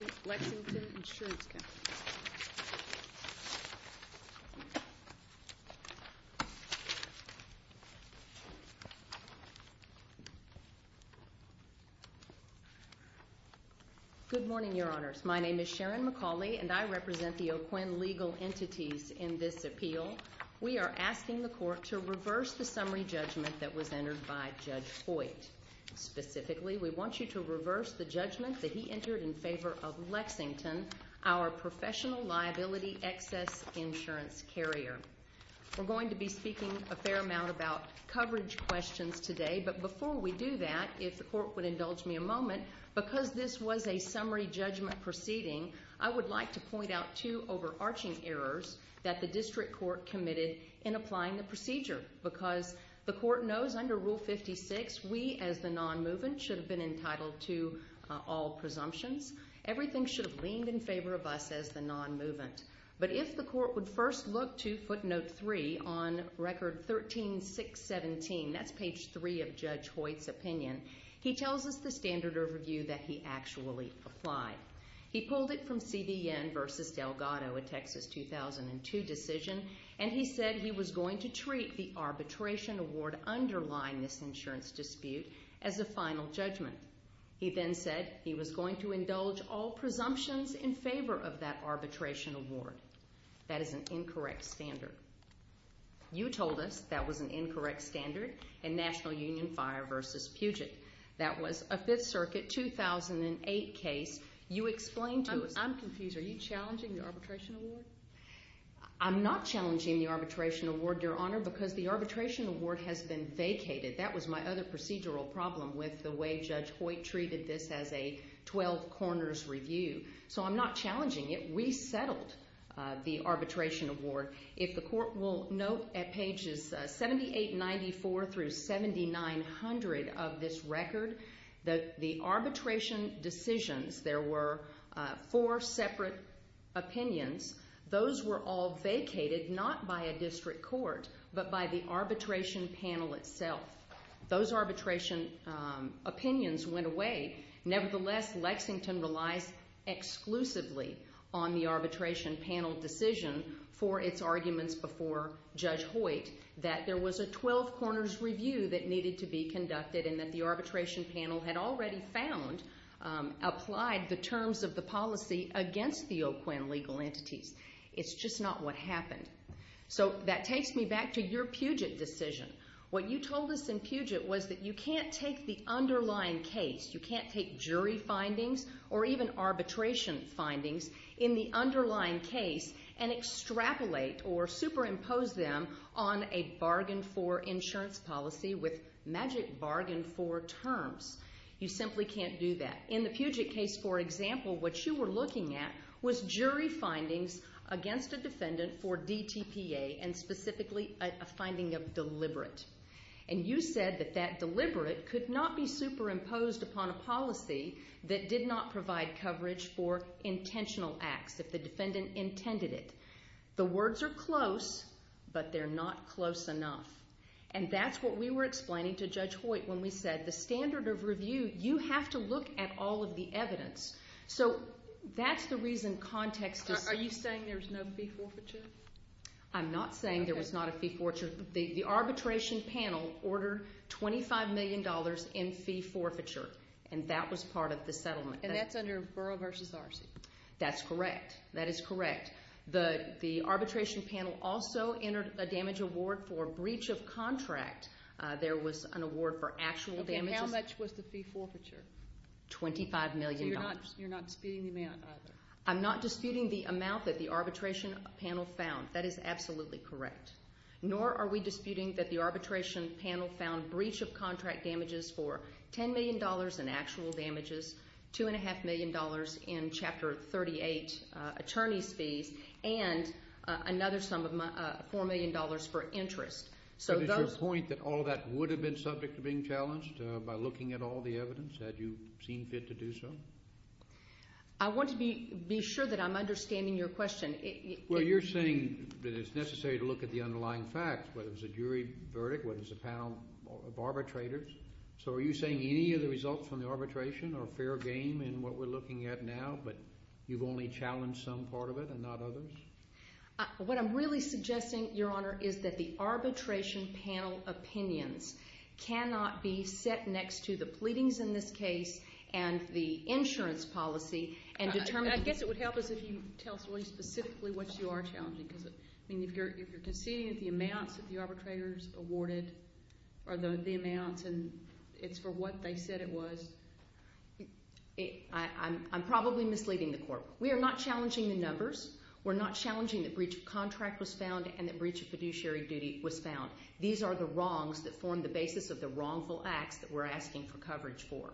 Good morning, Your Honors. My name is Sharon McCauley, and I represent the O'Quinn legal entities in this appeal. We are asking the Court to reverse the summary judgment that was entered by Judge Hoyt. Specifically, we want you to reverse the judgment that he entered in favor of Lexington, our professional liability excess insurance carrier. We're going to be speaking a fair amount about coverage questions today, but before we do that, if the Court would indulge me a moment, because this was a summary judgment proceeding, I would like to point out two overarching errors that the District Court committed in applying the procedure. Because the Court knows under Rule 56, we as the non-movement should have been entitled to all presumptions, everything should have leaned in favor of us as the non-movement. But if the Court would first look to footnote 3 on Record 13-617, that's page 3 of Judge Hoyt's opinion, he tells us the standard overview that he actually applied. He pulled it from CBN v. Delgado, a Texas 2002 decision, and he said he was going to treat the arbitration award underlying this insurance dispute as a final judgment. He then said he was going to indulge all presumptions in favor of that arbitration award. That is an incorrect standard. You told us that was an incorrect standard in National Union Fire v. Puget. That was a 5th Circuit 2008 case. You explained to us... I'm confused. Are you challenging the arbitration award? I'm not challenging the arbitration award, Your Honor, because the arbitration award has been vacated. That was my other procedural problem with the way Judge Hoyt treated this as a 12 corners review. So I'm not challenging it. We settled the arbitration award. If the Court will note at pages 7894-7900 of this record, the arbitration decisions, there were four separate opinions. Those were all vacated, not by a district court, but by the arbitration panel itself. Those arbitration opinions went away. Nevertheless, Lexington relies exclusively on the arbitration panel decision for its arguments before Judge Hoyt that there was a 12 corners review that needed to be conducted and that the arbitration panel had already found, applied the terms of the policy against the OQIN legal entities. It's just not what happened. So that takes me back to your Puget decision. What you told us in Puget was that you can't take the underlying case, you can't take jury findings or even arbitration findings in the underlying case and extrapolate or superimpose them on a bargain for insurance policy with the defendant. You simply can't do that. In the Puget case, for example, what you were looking at was jury findings against a defendant for DTPA and specifically a finding of deliberate. And you said that that deliberate could not be superimposed upon a policy that did not provide coverage for intentional acts if the defendant intended it. The words are close, but they're not close enough. And that's what we were explaining to Judge Hoyt when we said that the standard of review, you have to look at all of the evidence. So that's the reason context is... Are you saying there was no fee forfeiture? I'm not saying there was not a fee forfeiture. The arbitration panel ordered $25 million in fee forfeiture and that was part of the settlement. And that's under Borough v. RC? That's correct. That is correct. The arbitration panel also entered a damage award for breach of contract. There was an award for actual damages. Okay, how much was the fee forfeiture? $25 million. So you're not disputing the amount either? I'm not disputing the amount that the arbitration panel found. That is absolutely correct. Nor are we disputing that the arbitration panel found breach of contract damages for $10 million in actual damages, $2.5 million in Chapter 38 attorney's fees, and another sum of $4 million for interest. So does your point that all of that would have been subject to being challenged by looking at all the evidence? Had you seen fit to do so? I want to be sure that I'm understanding your question. Well, you're saying that it's necessary to look at the underlying facts, whether it's a jury verdict, whether it's a panel of arbitrators. So are you saying any of the results from the arbitration are fair game in what we're looking at now, but you've only challenged some part of it and not others? What I'm really suggesting, Your Honor, is that the arbitration panel opinions cannot be set next to the pleadings in this case and the insurance policy and determine... I guess it would help us if you tell us specifically what you are challenging. I mean, if you're conceding that the amounts that the arbitrators awarded are the amounts and it's for what they said it was... I'm probably misleading the court. We are not challenging the numbers. We're not challenging the breach of contract was found and the breach of fiduciary duty was found. These are the wrongs that form the basis of the wrongful acts that we're asking for coverage for.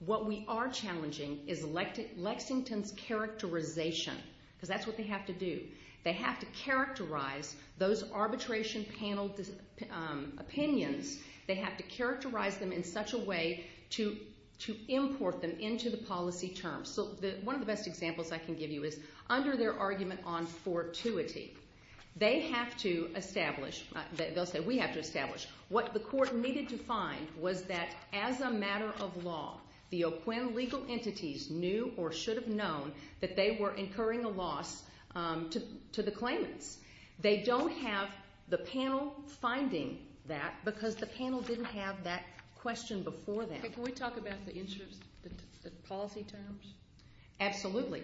What we are challenging is Lexington's characterization, because that's what they have to do. They have to characterize those arbitration panel opinions. They have to characterize them in such a way to import them into the policy terms. One of the best examples I can give you is under their argument on fortuity. They have to establish... They'll say, we have to establish. What the court needed to find was that as a matter of law, the OQIN legal entities knew or should have known that they were incurring a loss to the claimants. They don't have the panel finding that because the panel didn't have that question before that. Can we talk about the policy terms? Absolutely.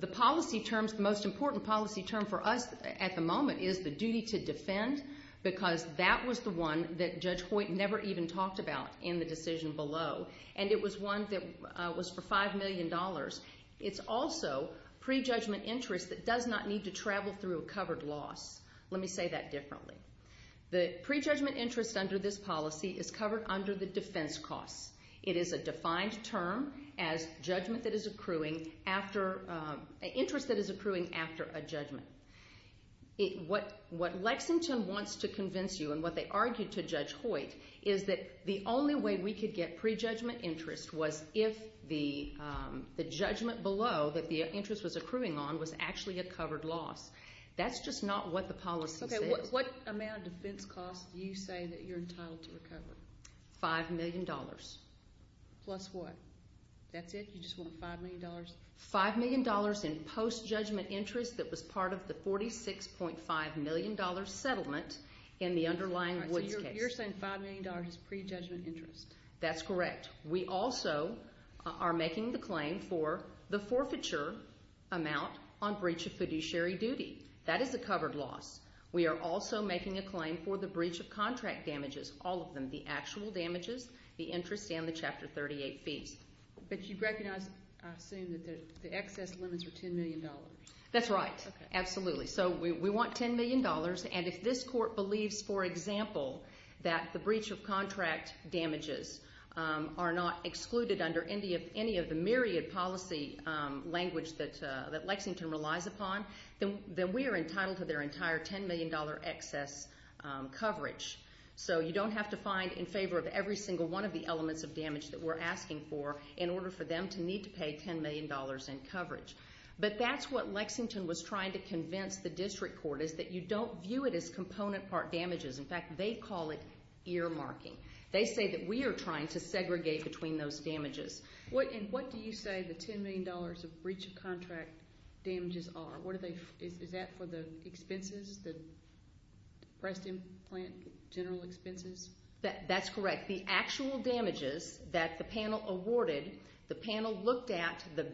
The policy terms, the most important policy term for us at the moment is the duty to defend, because that was the one that Judge Hoyt never even talked about in the decision below. It was one that was for $5 million. It's also prejudgment interest that does not need to travel through a covered loss. Let me say that differently. The prejudgment interest under this policy is covered under the defense costs. It is a defined term as judgment that is accruing after... An interest that is accruing after a judgment. What Lexington wants to convince you and what they argued to Judge Hoyt is that the only way we could get prejudgment interest was if the judgment below that the interest was accruing on was actually a covered loss. That's just not what the policy says. What amount of defense costs do you say that you're entitled to recover? $5 million. Plus what? That's it? You just want $5 million? $5 million in post-judgment interest that was part of the $46.5 million settlement in the underlying Woods case. So you're saying $5 million is prejudgment interest? That's correct. We also are making the claim for the forfeiture amount on breach of fiduciary duty. That is a covered loss. We are also making a claim for the breach of contract damages, all of them, the actual damages, the interest, and the Chapter 38 fees. But you recognize, I assume, that the excess limits are $10 million. That's right. Absolutely. So we want $10 million, and if this court believes, for example, that the breach of contract damages are not excluded under any of the myriad policy language that Lexington relies upon, then we are entitled to their entire $10 million excess coverage. So you don't have to find in favor of every single one of the elements of damage that we're asking for in order for them to need to pay $10 million in coverage. But that's what Lexington was trying to convince the district court, is that you don't view it as component part damages. In fact, they call it earmarking. They say that we are trying to segregate between those damages. And what do you say the $10 million of breach of contract damages are? Is that for the expenses, the breast implant general expenses? That's correct. The actual damages that the panel awarded, the panel looked at the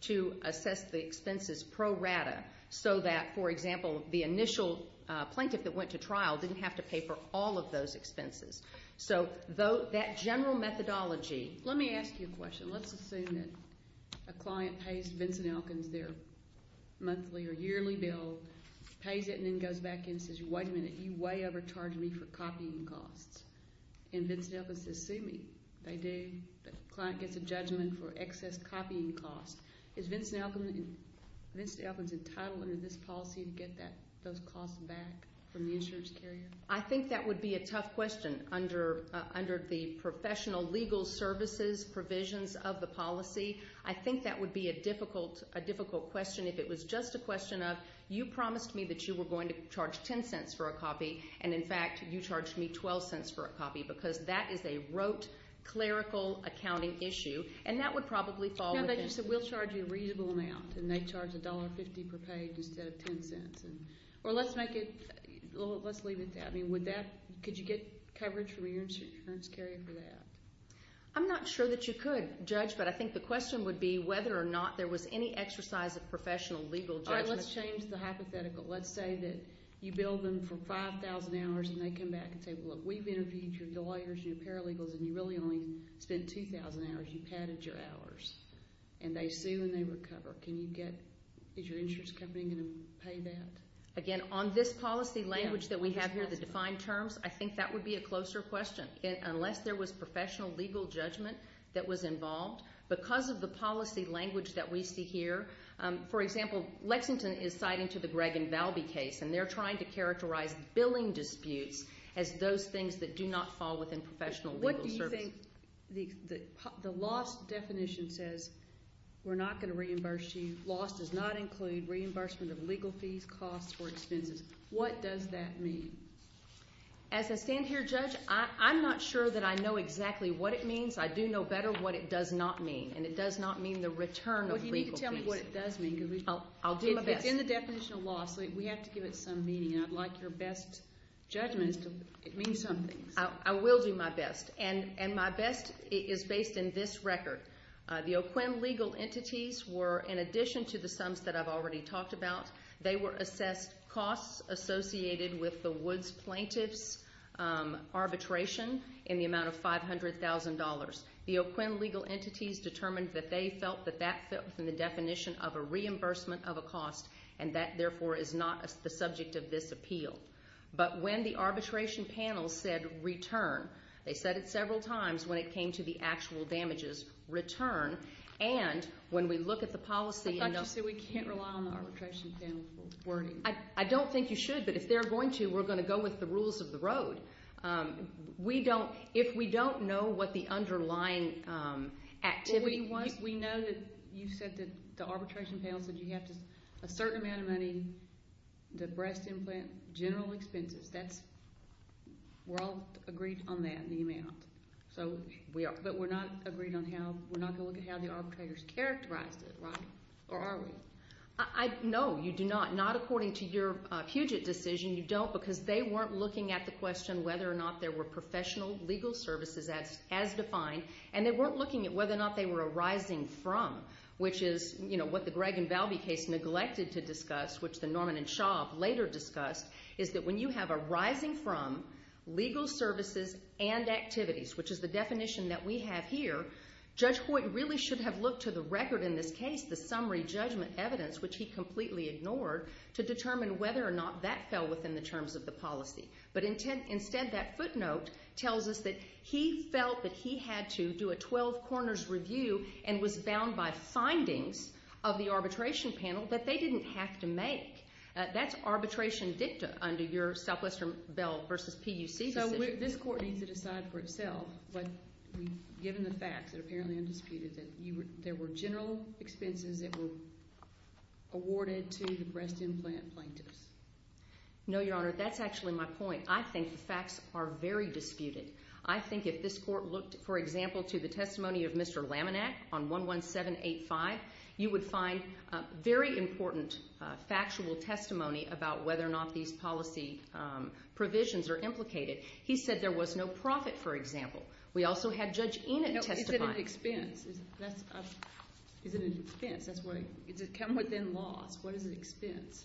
to assess the expenses pro rata so that, for example, the initial plaintiff that went to trial didn't have to pay for all of those expenses. So that general methodology Let me ask you a question. Let's assume that a client pays Vincent Elkins their monthly or yearly bill, pays it and then goes back in and says, wait a minute, you way overcharged me for copying costs. And Vincent Elkins says, see me. The client gets a judgment for excess copying costs. Is Vincent Elkins entitled under this policy to get those costs back from the insurance carrier? I think that would be a tough question under the professional legal services provisions of the policy. I think that would be a difficult question if it was just a question of you promised me that you were going to charge $0.10 for a copy. And in fact, you charged me $0.12 for a copy because that is a rote clerical accounting issue. And that would probably fall. No, they just said we'll charge you a reasonable amount. And they charge $1.50 per page instead of $0.10. Or let's make it, let's leave it at that. I mean, would that, could you get coverage from your insurance carrier for that? I'm not sure that you could, Judge, but I think the question would be whether or not there was any exercise of professional legal judgment. All right, let's change the hypothetical. Let's say that you billed them for 5,000 hours and they come back and say, look, we've interviewed your lawyers, your paralegals, and you really only spent 2,000 hours. You padded your hours. And they sue and they recover. Can you get, is your insurance company going to pay that? Again, on this policy language that we have here, the defined terms, I think that would be a closer question. Unless there was professional legal judgment that was involved. Because of the policy language that we see here, for example, Lexington is citing to the Gregg and Valby case, and they're trying to characterize billing disputes as those things that do not fall within professional legal service. What do you think the loss definition says? We're not going to reimburse you. Loss does not include reimbursement of legal fees, costs, or expenses. What does that mean? As I stand here, Judge, I'm not sure that I know exactly what it means. I do know better what it does not mean, and it does not mean the return of legal fees. Well, do you need to tell me what it does mean, because we've been talking about it. I'll do my best. It's in the definition of loss, so we have to give it some meaning. I'd like your best judgment. It means something. I will do my best. And my best is based in this record. The OQIN legal entities were, in addition to the sums that I've already talked about, they were assessed costs associated with the Woods plaintiff's arbitration in the amount of $500,000. The OQIN legal entities determined that they felt that that fit within the definition of a reimbursement of a cost, and that, therefore, is not the subject of this appeal. But when the arbitration panel said return, they said it several times when it came to the actual damages, return. And when we look at the policy and the- I thought you said we can't rely on the arbitration panel for wording. I don't think you should, but if they're going to, we're going to go with the rules of the road. If we don't know what the underlying activity- Well, we know that you said that the arbitration panel said you have a certain amount of money, the breast implant, general expenses. We're all agreed on that, the amount. But we're not agreed on how-we're not going to look at how the arbitrators characterized it, right? Or are we? No, you do not. Not according to your Puget decision, you don't, because they weren't looking at the question whether or not there were professional legal services as defined, and they weren't looking at whether or not they were arising from, which is what the Gregg and Valby case neglected to discuss, which the Norman and Shaw later discussed, is that when you have arising from legal services and activities, which is the definition that we have here, Judge Hoyt really should have looked to the record in this case, the summary judgment evidence, which he completely ignored, to determine whether or not that fell within the terms of the policy. But instead, that footnote tells us that he felt that he had to do a 12-corners review and was bound by findings of the arbitration panel that they didn't have to make. That's arbitration dicta under your Southwestern Bell v. PUC decision. So this Court needs to decide for itself, but given the facts, it apparently undisputed, that there were general expenses that were awarded to the breast implant plaintiffs. No, Your Honor, that's actually my point. I think the facts are very disputed. I think if this Court looked, for example, to the testimony of Mr. Laminack on 11785, you would find very important factual testimony about whether or not these policy provisions are implicated. He said there was no profit, for example. We also had Judge Enid testify. Is it an expense? Is it an expense? Does it come within loss? What is an expense?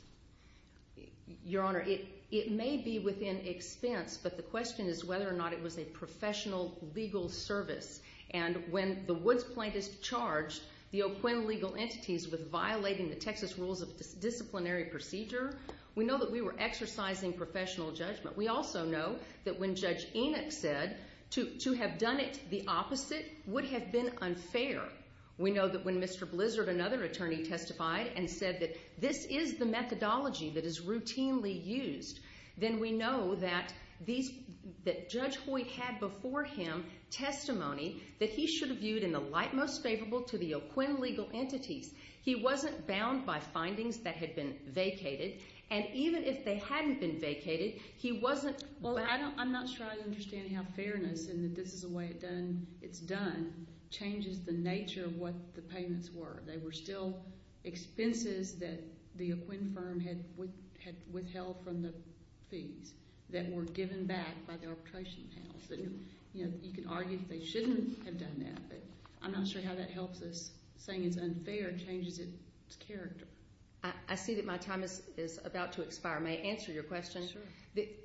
Your Honor, it may be within expense, but the question is whether or not it was a professional legal service. And when the Woods plaintiffs charged the O'Quinn legal entities with violating the Texas Rules of Disciplinary Procedure, we know that we were exercising professional judgment. We also know that when Judge Enoch said to have done it the opposite would have been unfair, we know that when Mr. Blizzard, another attorney, testified and said that this is the methodology that is routinely used, then we know that Judge Hoyt had before him testimony that he should have viewed in the light most favorable to the O'Quinn legal entities. He wasn't bound by findings that had been vacated. And even if they hadn't been vacated, he wasn't bound. Well, I'm not sure I understand how fairness and that this is the way it's done changes the nature of what the payments were. They were still expenses that the O'Quinn firm had withheld from the fees that were given back by the arbitration panel. You know, you could argue that they shouldn't have done that, but I'm not sure how that helps us. Saying it's unfair changes its character. I see that my time is about to expire. May I answer your question? Sure.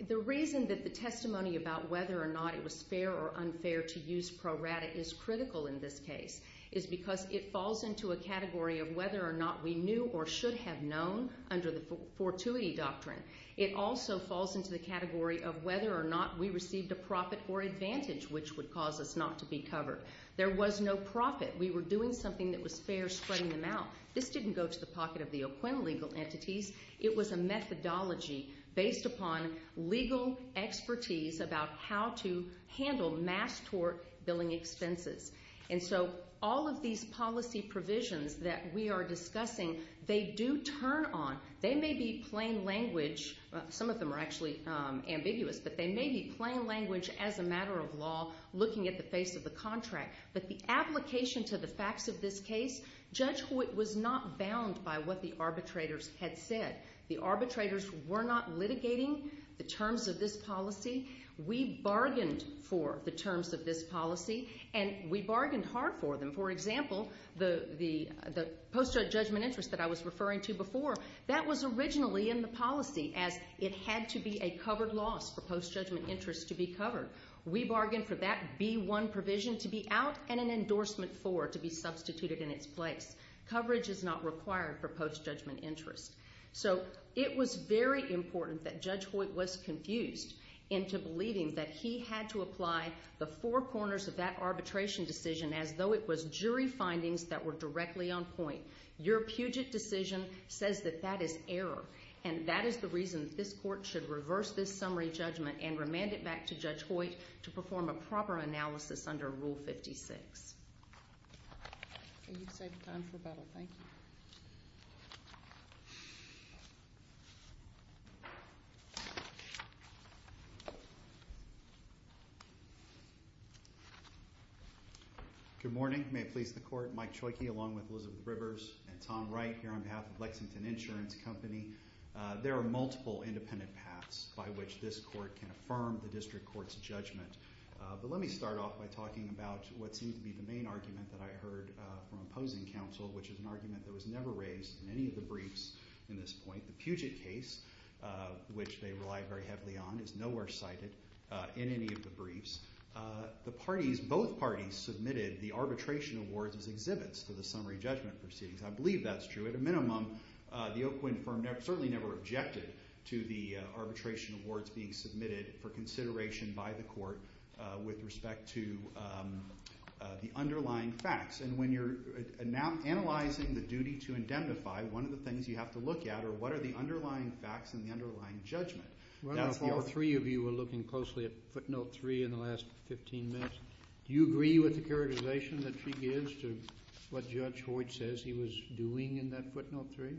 The reason that the testimony about whether or not it was fair or unfair to use pro rata is critical in this case is because it falls into a category of whether or not we knew or should have known under the fortuity doctrine. It also falls into the category of whether or not we received a profit or advantage, which would cause us not to be covered. There was no profit. We were doing something that was fair, spreading them out. This didn't go to the pocket of the O'Quinn legal entities. It was a methodology based upon legal expertise about how to handle mass tort billing expenses. And so all of these policy provisions that we are discussing, they do turn on. They may be plain language. Some of them are actually ambiguous, but they may be plain language as a matter of law looking at the face of the contract. But the application to the facts of this case, Judge Hoyt was not bound by what the arbitrators had said. The arbitrators were not litigating the terms of this policy. We bargained for the terms of this policy. And we bargained hard for them. For example, the post-judgment interest that I was referring to before, that was originally in the policy as it had to be a covered loss for post-judgment interest to be covered. We bargained for that B-1 provision to be out and an endorsement for it to be substituted in its place. Coverage is not required for post-judgment interest. So it was very important that Judge Hoyt was confused into believing that he had to apply the four corners of that arbitration decision as though it was jury findings that were directly on point. Your Puget decision says that that is error. And that is the reason that this court should reverse this summary judgment and remand it back to Judge Hoyt to perform a proper analysis under Rule 56. You've saved time for battle. Thank you. Good morning. May it please the Court. Mike Czojki along with Elizabeth Rivers and Tom Wright here on behalf of Lexington Insurance Company. There are multiple independent paths by which this court can affirm the district court's judgment. But let me start off by talking about what seems to be the main argument that I heard from opposing counsel which is an argument that was never raised in any of the briefs in this point. The Puget case, which they rely very heavily on, is nowhere cited in any of the briefs. Both parties submitted the arbitration awards as exhibits for the summary judgment proceedings. I believe that's true. At a minimum, the Oakwood firm certainly never objected to the arbitration awards being submitted for consideration by the court with respect to the underlying facts. And when you're analyzing the duty to indemnify, one of the things you have to look at are what are the underlying facts and the underlying judgment. Well, if all three of you were looking closely at footnote 3 in the last 15 minutes, do you agree with the characterization that she gives to what Judge Hoyt says he was doing in that footnote 3?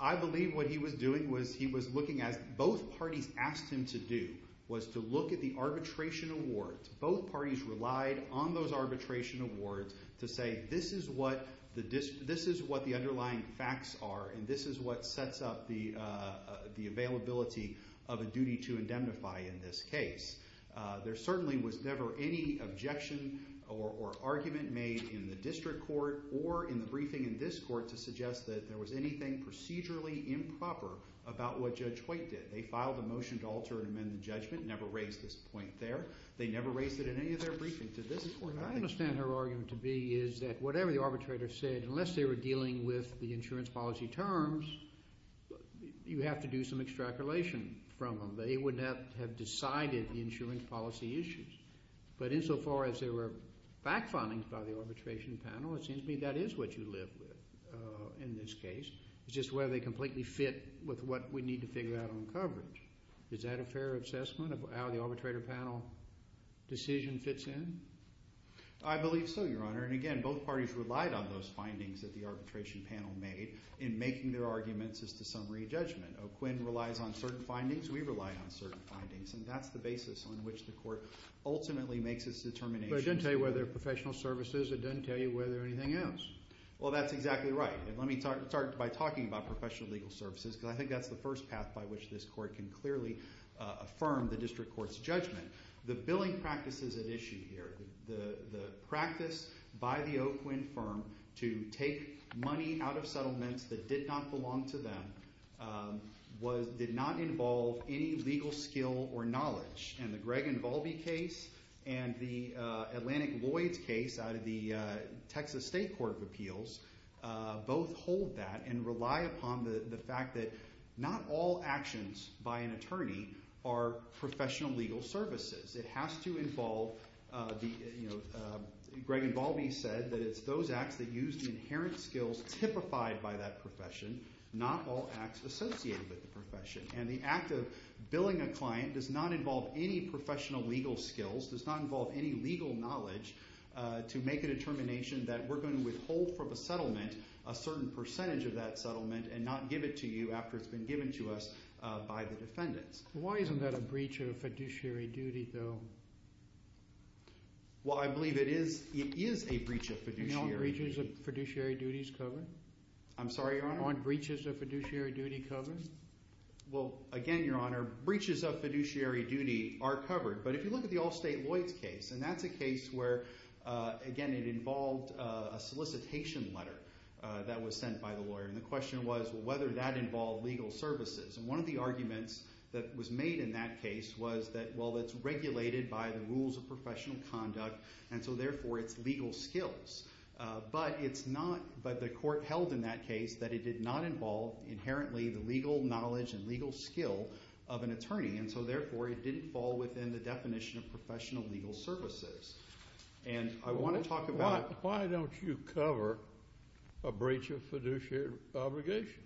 I believe what he was doing was he was looking at both parties asked him to do was to look at the arbitration awards. Both parties relied on those arbitration awards to say this is what the underlying facts are and this is what sets up the availability of a duty to indemnify in this case. There certainly was never any objection or argument made in the district court or in the briefing in this court to suggest that there was anything procedurally improper about what Judge Hoyt did. They filed a motion to alter and amend the judgment, never raised this point there. They never raised it in any of their briefings. I understand her argument to be is that whatever the arbitrator said, unless they were dealing with the insurance policy terms, you have to do some extrapolation from them. They would not have decided the insurance policy issues. But insofar as there were back findings by the arbitration panel, it seems to me that is what you live with in this case. It's just whether they completely fit with what we need to figure out on coverage. Is that a fair assessment of how the arbitrator panel decision fits in? I believe so, Your Honor, and again, both parties relied on those findings that the arbitration panel made in making their arguments as to summary judgment. OQIN relies on certain findings. We rely on certain findings, and that's the basis on which the court ultimately makes its determination. But it doesn't tell you whether they're professional services. It doesn't tell you whether they're anything else. Well, that's exactly right, and let me start by talking about professional legal services because I think that's the first path by which this court can clearly affirm the district court's judgment. The billing practices at issue here, the practice by the OQIN firm to take money out of settlements that did not belong to them did not involve any legal skill or knowledge, and the Gregg and Volpe case and the Atlantic Lloyds case out of the Texas State Court of Appeals both hold that and rely upon the fact that not all actions by an attorney are professional legal services. It has to involve the, you know, Gregg and Volpe said that it's those acts that use the inherent skills that are typified by that profession, not all acts associated with the profession. And the act of billing a client does not involve any professional legal skills, does not involve any legal knowledge to make a determination that we're going to withhold from a settlement a certain percentage of that settlement and not give it to you after it's been given to us by the defendants. Why isn't that a breach of fiduciary duty, though? Aren't breaches of fiduciary duties covered? I'm sorry, Your Honor? Aren't breaches of fiduciary duty covered? Well, again, Your Honor, breaches of fiduciary duty are covered, but if you look at the Allstate Lloyds case, and that's a case where, again, it involved a solicitation letter that was sent by the lawyer, and the question was whether that involved legal services. And one of the arguments that was made in that case was that, well, it's regulated by the rules of professional conduct, and so, therefore, it's legal skills. But it's not, but the court held in that case that it did not involve inherently the legal knowledge and legal skill of an attorney, and so, therefore, it didn't fall within the definition of professional legal services. And I want to talk about. Why don't you cover a breach of fiduciary obligation?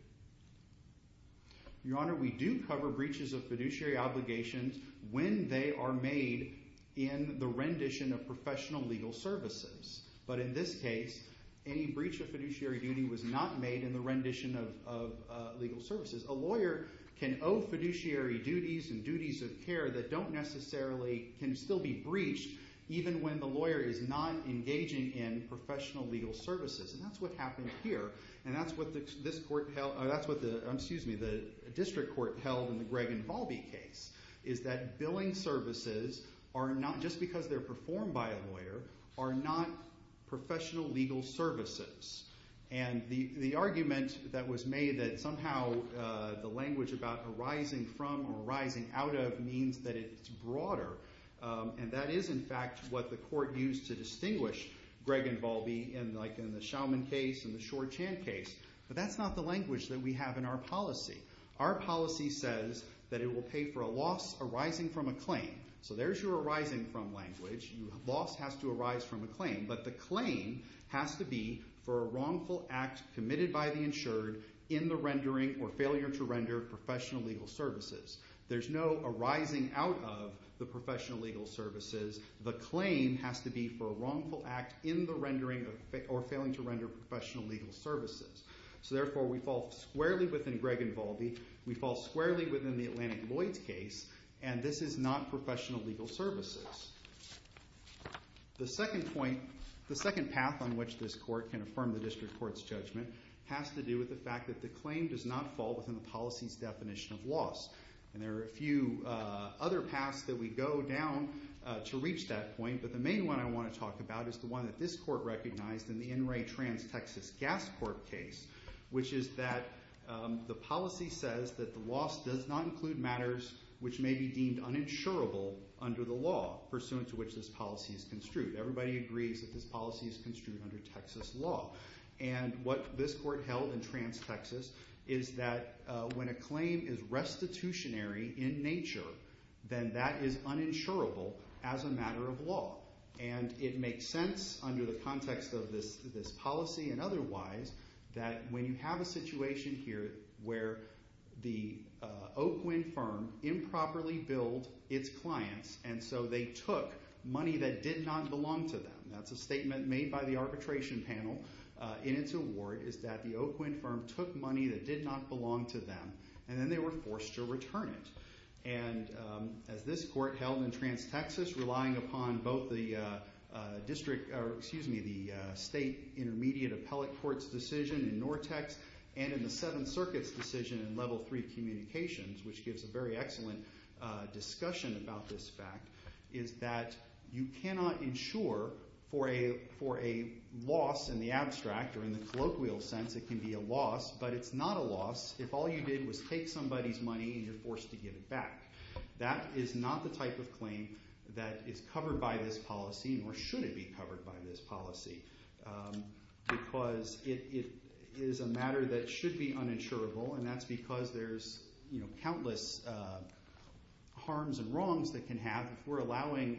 Your Honor, we do cover breaches of fiduciary obligations when they are made in the rendition of professional legal services. But in this case, any breach of fiduciary duty was not made in the rendition of legal services. A lawyer can owe fiduciary duties and duties of care that don't necessarily can still be breached even when the lawyer is not engaging in professional legal services, and that's what happened here, and that's what the district court held in the Gregg and Volpe case, is that billing services, just because they're performed by a lawyer, are not professional legal services. And the argument that was made that somehow the language about arising from or arising out of means that it's broader, and that is, in fact, what the court used to distinguish Gregg and Volpe in the Schauman case and the Shor-Chan case, but that's not the language that we have in our policy. Our policy says that it will pay for a loss arising from a claim. So there's your arising from language. Loss has to arise from a claim, but the claim has to be for a wrongful act committed by the insured in the rendering or failure to render professional legal services. There's no arising out of the professional legal services. The claim has to be for a wrongful act in the rendering or failing to render professional legal services. So therefore, we fall squarely within Gregg and Volpe. We fall squarely within the Atlantic Lloyds case, and this is not professional legal services. The second point, the second path on which this court can affirm the district court's judgment has to do with the fact that the claim does not fall within the policy's definition of loss. And there are a few other paths that we go down to reach that point, but the main one I want to talk about is the one that this court recognized in the NRA Trans-Texas Gas Court case, which is that the policy says that the loss does not include matters which may be deemed uninsurable under the law pursuant to which this policy is construed. Everybody agrees that this policy is construed under Texas law. And what this court held in Trans-Texas is that when a claim is restitutionary in nature, then that is uninsurable as a matter of law. And it makes sense under the context of this policy and otherwise that when you have a situation here where the Oakwind firm improperly billed its clients and so they took money that did not belong to them. That's a statement made by the arbitration panel in its award, is that the Oakwind firm took money that did not belong to them, and then they were forced to return it. And as this court held in Trans-Texas, relying upon both the state intermediate appellate court's decision in Nortex and in the Seventh Circuit's decision in Level 3 Communications, which gives a very excellent discussion about this fact, is that you cannot insure for a loss in the abstract, or in the colloquial sense it can be a loss, but it's not a loss if all you did was take somebody's money and you're forced to give it back. That is not the type of claim that is covered by this policy, nor should it be covered by this policy, because it is a matter that should be uninsurable, and that's because there's countless harms and wrongs that can happen if we're allowing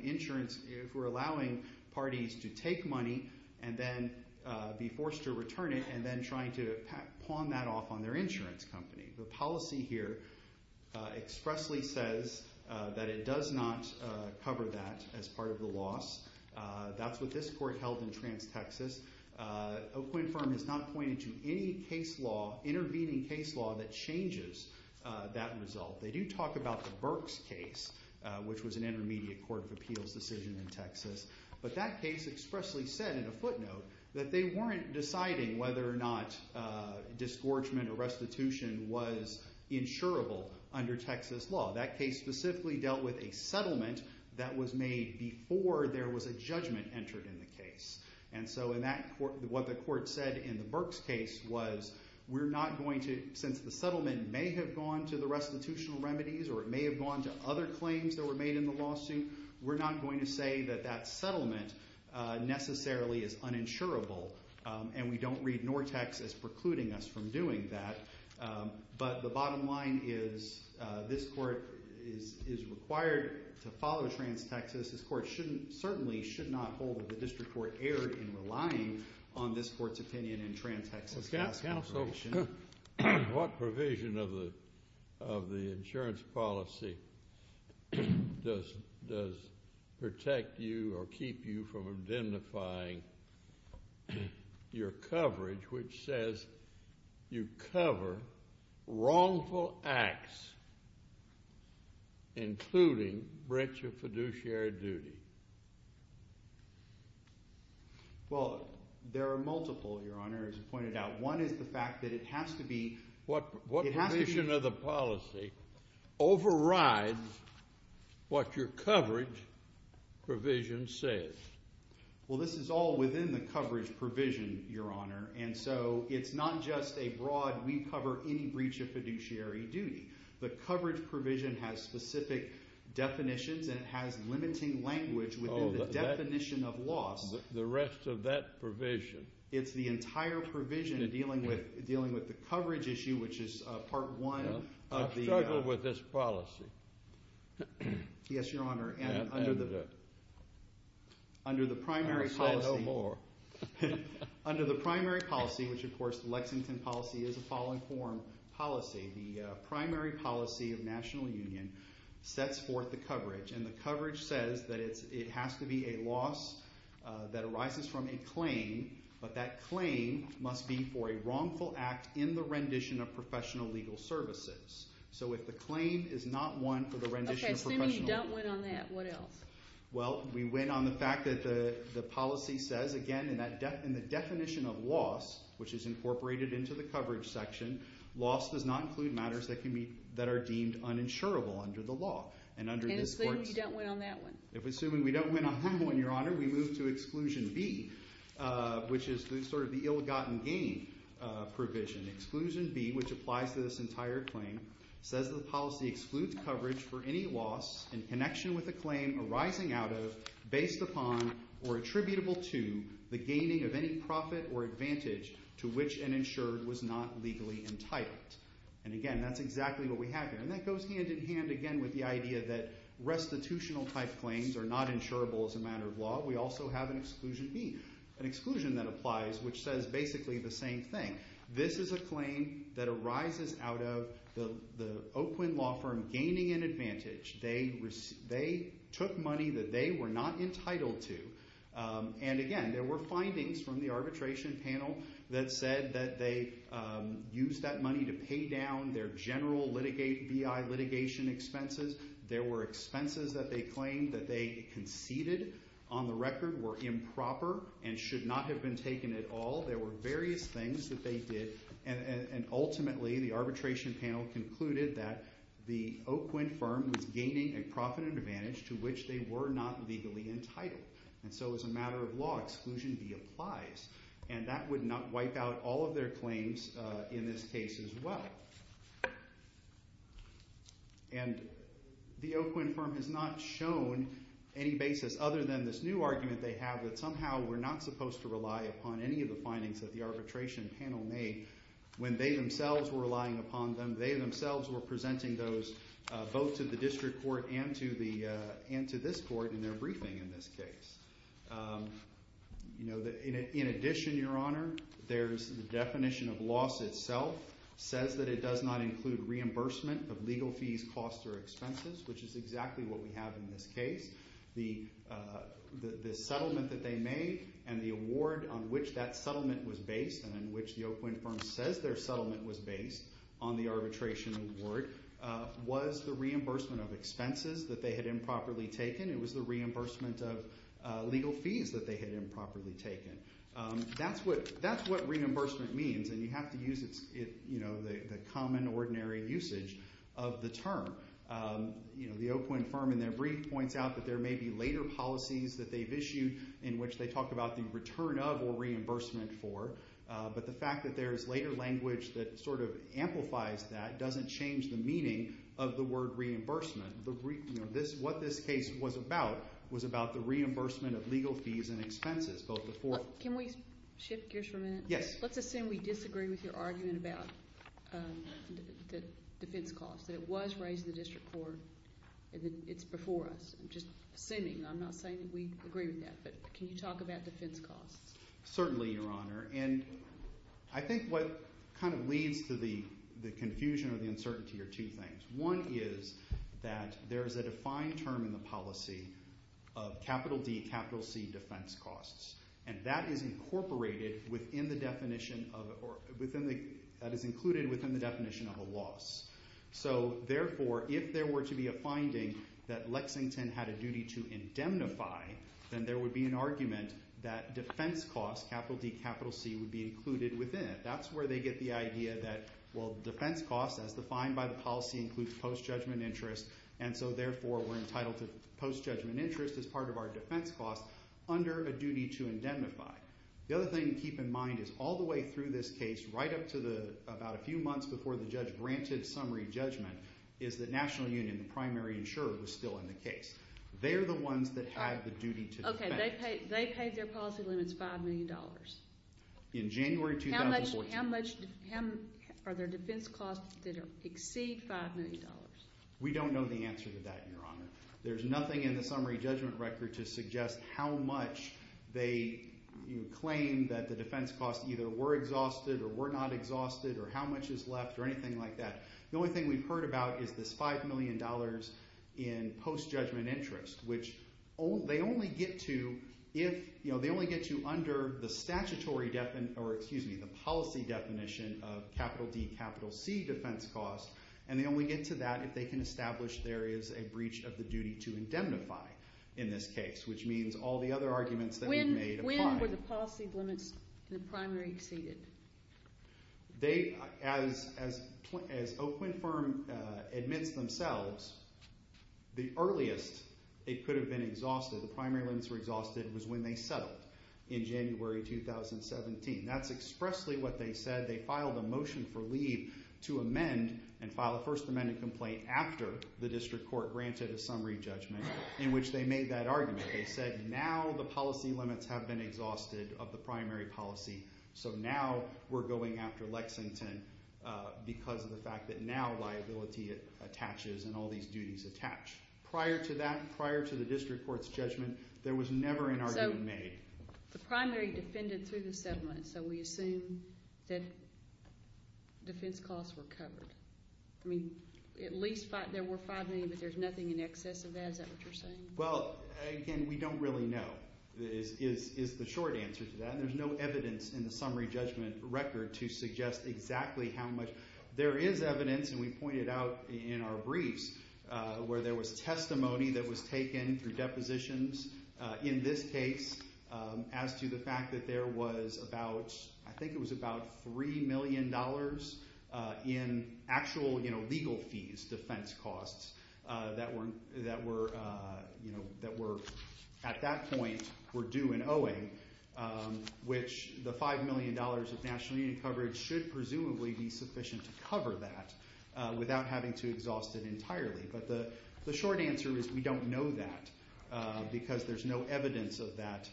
parties to take money and then be forced to return it and then trying to pawn that off on their insurance company. The policy here expressly says that it does not cover that as part of the loss. That's what this court held in Trans-Texas. O'Quinn Firm has not pointed to any intervening case law that changes that result. They do talk about the Burks case, which was an intermediate court of appeals decision in Texas, but that case expressly said in a footnote that they weren't deciding whether or not disgorgement or restitution was insurable under Texas law. That case specifically dealt with a settlement that was made before there was a judgment entered in the case. And so what the court said in the Burks case was we're not going to, since the settlement may have gone to the restitutional remedies or it may have gone to other claims that were made in the lawsuit, we're not going to say that that settlement necessarily is uninsurable, and we don't read Nortex as precluding us from doing that. But the bottom line is this court is required to follow Trans-Texas. This court certainly should not hold that the district court erred in relying on this court's opinion in Trans-Texas case consideration. What provision of the insurance policy does protect you or keep you from identifying your coverage which says you cover wrongful acts including breach of fiduciary duty? Well, there are multiple, Your Honor, as you pointed out. One is the fact that it has to be— What provision of the policy overrides what your coverage provision says? Well, this is all within the coverage provision, Your Honor, and so it's not just a broad we cover any breach of fiduciary duty. The coverage provision has specific definitions and it has limiting language within the definition of loss. The rest of that provision? It's the entire provision dealing with the coverage issue, which is Part 1 of the— I struggle with this policy. Yes, Your Honor, and under the primary policy— I'm going to say no more. Under the primary policy, which of course the Lexington policy is a fall-in-form policy, the primary policy of national union sets forth the coverage, and the coverage says that it has to be a loss that arises from a claim, but that claim must be for a wrongful act in the rendition of professional legal services. So if the claim is not one for the rendition of professional— Okay, assuming you don't win on that, what else? Well, we win on the fact that the policy says, again, in the definition of loss, which is incorporated into the coverage section, loss does not include matters that are deemed uninsurable under the law. And assuming you don't win on that one? Assuming we don't win on that one, Your Honor, we move to Exclusion B, which is sort of the ill-gotten gain provision. Exclusion B, which applies to this entire claim, says the policy excludes coverage for any loss in connection with a claim arising out of, based upon, or attributable to, the gaining of any profit or advantage to which an insured was not legally entitled. And again, that's exactly what we have here. And that goes hand-in-hand again with the idea that restitutional-type claims are not insurable as a matter of law. We also have an Exclusion B, an exclusion that applies, which says basically the same thing. This is a claim that arises out of the Oakland law firm gaining an advantage. They took money that they were not entitled to. And again, there were findings from the arbitration panel that said that they used that money to pay down their general BI litigation expenses. There were expenses that they claimed that they conceded on the record were improper and should not have been taken at all. There were various things that they did. And ultimately, the arbitration panel concluded that the Oakland firm was gaining a profit and advantage to which they were not legally entitled. And so as a matter of law, Exclusion B applies. And that would not wipe out all of their claims in this case as well. And the Oakland firm has not shown any basis other than this new argument they have that somehow we're not supposed to rely upon any of the findings that the arbitration panel made when they themselves were relying upon them. They themselves were presenting those both to the district court and to this court in their briefing in this case. In addition, Your Honor, there's the definition of loss itself. It says that it does not include reimbursement of legal fees, costs, or expenses, which is exactly what we have in this case. The settlement that they made and the award on which that settlement was based and on which the Oakland firm says their settlement was based on the arbitration award was the reimbursement of expenses that they had improperly taken. It was the reimbursement of legal fees that they had improperly taken. That's what reimbursement means, and you have to use the common, ordinary usage of the term. The Oakland firm in their brief points out that there may be later policies that they've issued in which they talk about the return of or reimbursement for, but the fact that there's later language that sort of amplifies that doesn't change the meaning of the word reimbursement. What this case was about was about the reimbursement of legal fees and expenses, both the four. Can we shift gears for a minute? Yes. Let's assume we disagree with your argument about the defense cost, that it was raised in the district court and that it's before us. I'm just assuming. I'm not saying that we agree with that, but can you talk about defense costs? Certainly, Your Honor, and I think what kind of leads to the confusion or the uncertainty are two things. One is that there is a defined term in the policy of capital D, capital C defense costs, and that is incorporated within the definition of a loss. So, therefore, if there were to be a finding that Lexington had a duty to indemnify, then there would be an argument that defense costs, capital D, capital C, would be included within it. That's where they get the idea that, well, defense costs, as defined by the policy, includes post-judgment interest, and so, therefore, we're entitled to post-judgment interest as part of our defense costs under a duty to indemnify. The other thing to keep in mind is all the way through this case, right up to about a few months before the judge granted summary judgment, is that National Union, the primary insurer, was still in the case. They're the ones that have the duty to defend. Okay, they paid their policy limits $5 million. In January 2014. How much are their defense costs that exceed $5 million? We don't know the answer to that, Your Honor. There's nothing in the summary judgment record to suggest how much they claim that the defense costs either were exhausted or were not exhausted or how much is left or anything like that. The only thing we've heard about is this $5 million in post-judgment interest, which they only get to under the policy definition of capital D, capital C defense costs, and they only get to that if they can establish there is a breach of the duty to indemnify in this case, which means all the other arguments that we've made apply. When were the policy limits in the primary exceeded? As Oakwood Firm admits themselves, the earliest it could have been exhausted, the primary limits were exhausted, was when they settled in January 2017. That's expressly what they said. They filed a motion for leave to amend and file a first amendment complaint after the district court granted a summary judgment in which they made that argument. They said now the policy limits have been exhausted of the primary policy, so now we're going after Lexington because of the fact that now liability attaches and all these duties attach. Prior to that, prior to the district court's judgment, there was never an argument made. So the primary defended through the settlement, so we assume that defense costs were covered. I mean at least there were $5 million, but there's nothing in excess of that. Is that what you're saying? Well, again, we don't really know is the short answer to that. There's no evidence in the summary judgment record to suggest exactly how much. There is evidence, and we pointed out in our briefs, where there was testimony that was taken through depositions in this case as to the fact that there was about, I think it was about $3 million in actual legal fees, defense costs, that were at that point were due and owing, which the $5 million of national union coverage should presumably be sufficient to cover that without having to exhaust it entirely. But the short answer is we don't know that because there's no evidence of that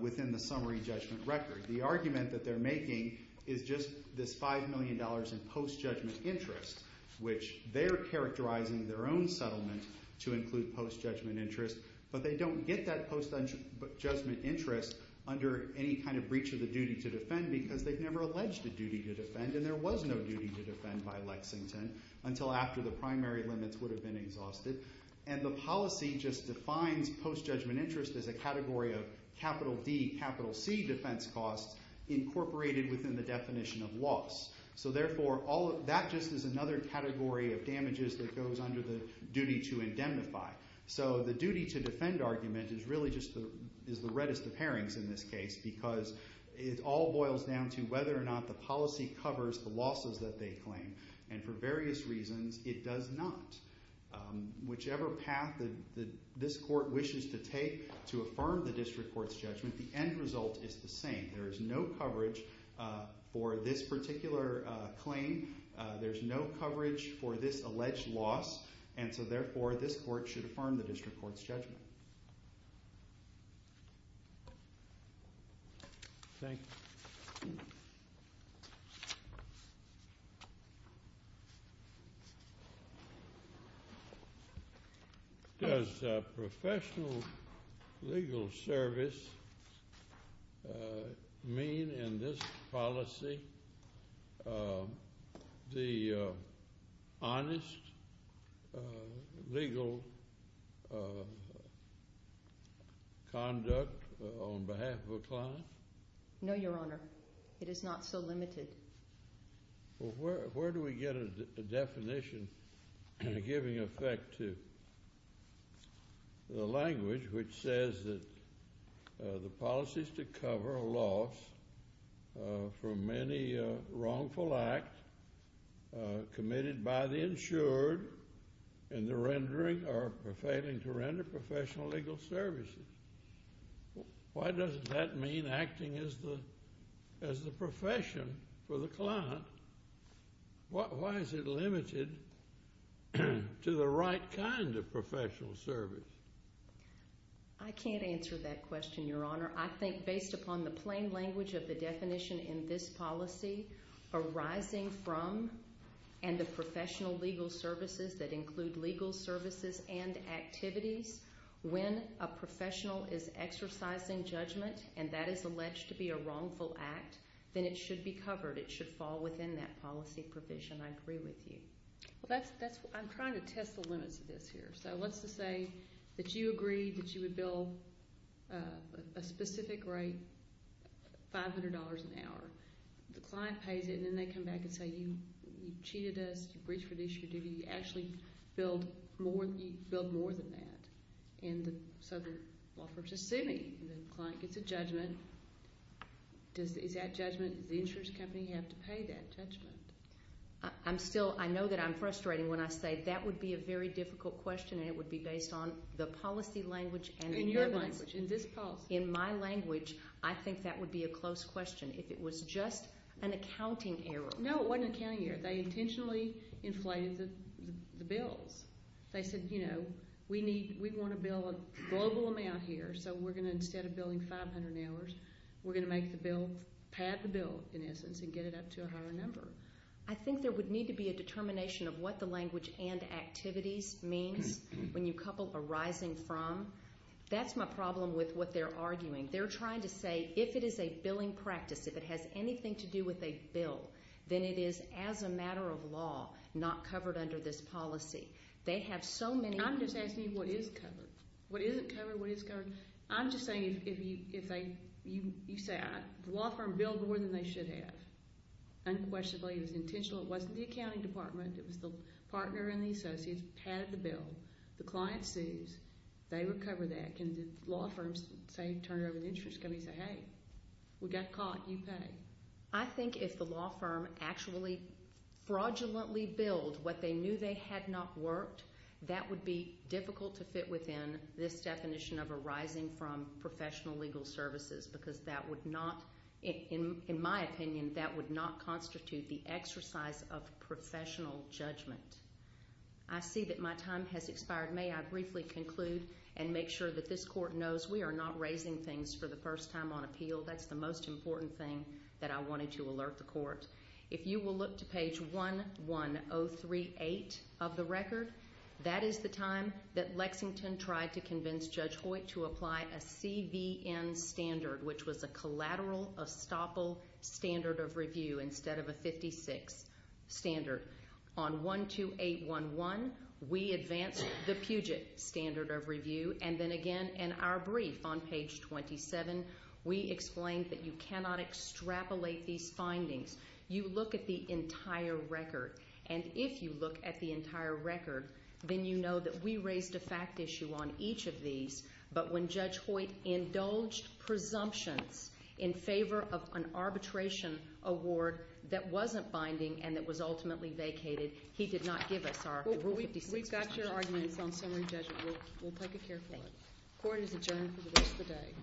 within the summary judgment record. The argument that they're making is just this $5 million in post-judgment interest, which they're characterizing their own settlement to include post-judgment interest, but they don't get that post-judgment interest under any kind of breach of the duty to defend because they've never alleged a duty to defend, and there was no duty to defend by Lexington until after the primary limits would have been exhausted. And the policy just defines post-judgment interest as a category of capital D, capital C defense costs incorporated within the definition of loss. So therefore, that just is another category of damages that goes under the duty to indemnify. So the duty to defend argument is really just the reddest of herrings in this case because it all boils down to whether or not the policy covers the losses that they claim, and for various reasons it does not. Whichever path this court wishes to take to affirm the district court's judgment, the end result is the same. There is no coverage for this particular claim. There's no coverage for this alleged loss, Thank you. Thank you. Conduct on behalf of a client? No, Your Honor. It is not so limited. Well, where do we get a definition giving effect to the language which says that the policies to cover a loss from any wrongful act committed by the insured in the rendering or failing to render professional legal services? Why does that mean acting as the profession for the client? Why is it limited to the right kind of professional service? I can't answer that question, Your Honor. I think based upon the plain language of the definition in this policy arising from and the professional legal services that include legal services and activities, when a professional is exercising judgment and that is alleged to be a wrongful act, then it should be covered. It should fall within that policy provision. I agree with you. I'm trying to test the limits of this here. So let's just say that you agreed that you would bill a specific rate, $500 an hour. The client pays it, and then they come back and say, you cheated us, you breached our duty, you actually billed more than that. And so the law firm says, sue me. And the client gets a judgment. Is that judgment, does the insurance company have to pay that judgment? I'm still, I know that I'm frustrating when I say that would be a very difficult question and it would be based on the policy language and the evidence. In your language, in this policy. In my language, I think that would be a close question. If it was just an accounting error. No, it wasn't an accounting error. They intentionally inflated the bills. They said, you know, we need, we want to bill a global amount here, so we're going to, instead of billing $500 an hour, we're going to make the bill, pad the bill, in essence, and get it up to a higher number. I think there would need to be a determination of what the language and activities means when you couple arising from. That's my problem with what they're arguing. They're trying to say, if it is a billing practice, if it has anything to do with a bill, then it is, as a matter of law, not covered under this policy. They have so many. I'm just asking you what is covered. What isn't covered, what is covered? I'm just saying, if they, you say, the law firm billed more than they should have. Unquestionably, it was intentional. It wasn't the accounting department. It was the partner and the associates padded the bill. The client sees. They recover that. Can the law firms, say, turn it over to the insurance company and say, hey, we got caught, you pay? I think if the law firm actually fraudulently billed what they knew they had not worked, that would be difficult to fit within this definition of arising from professional legal services because that would not, in my opinion, that would not constitute the exercise of professional judgment. I see that my time has expired. May I briefly conclude and make sure that this court knows we are not raising things for the first time on appeal. That's the most important thing that I wanted to alert the court. If you will look to page 11038 of the record, that is the time that Lexington tried to convince Judge Hoyt to apply a CVN standard, which was a collateral estoppel standard of review instead of a 56 standard. On 12811, we advanced the Puget standard of review, and then again in our brief on page 27, we explained that you cannot extrapolate these findings. You look at the entire record, and if you look at the entire record, then you know that we raised a fact issue on each of these, but when Judge Hoyt indulged presumptions in favor of an arbitration award that wasn't binding and that was ultimately vacated, he did not give us our rule 56. We've got your arguments on summary judgment. We'll take a careful look. Court is adjourned for the rest of the day.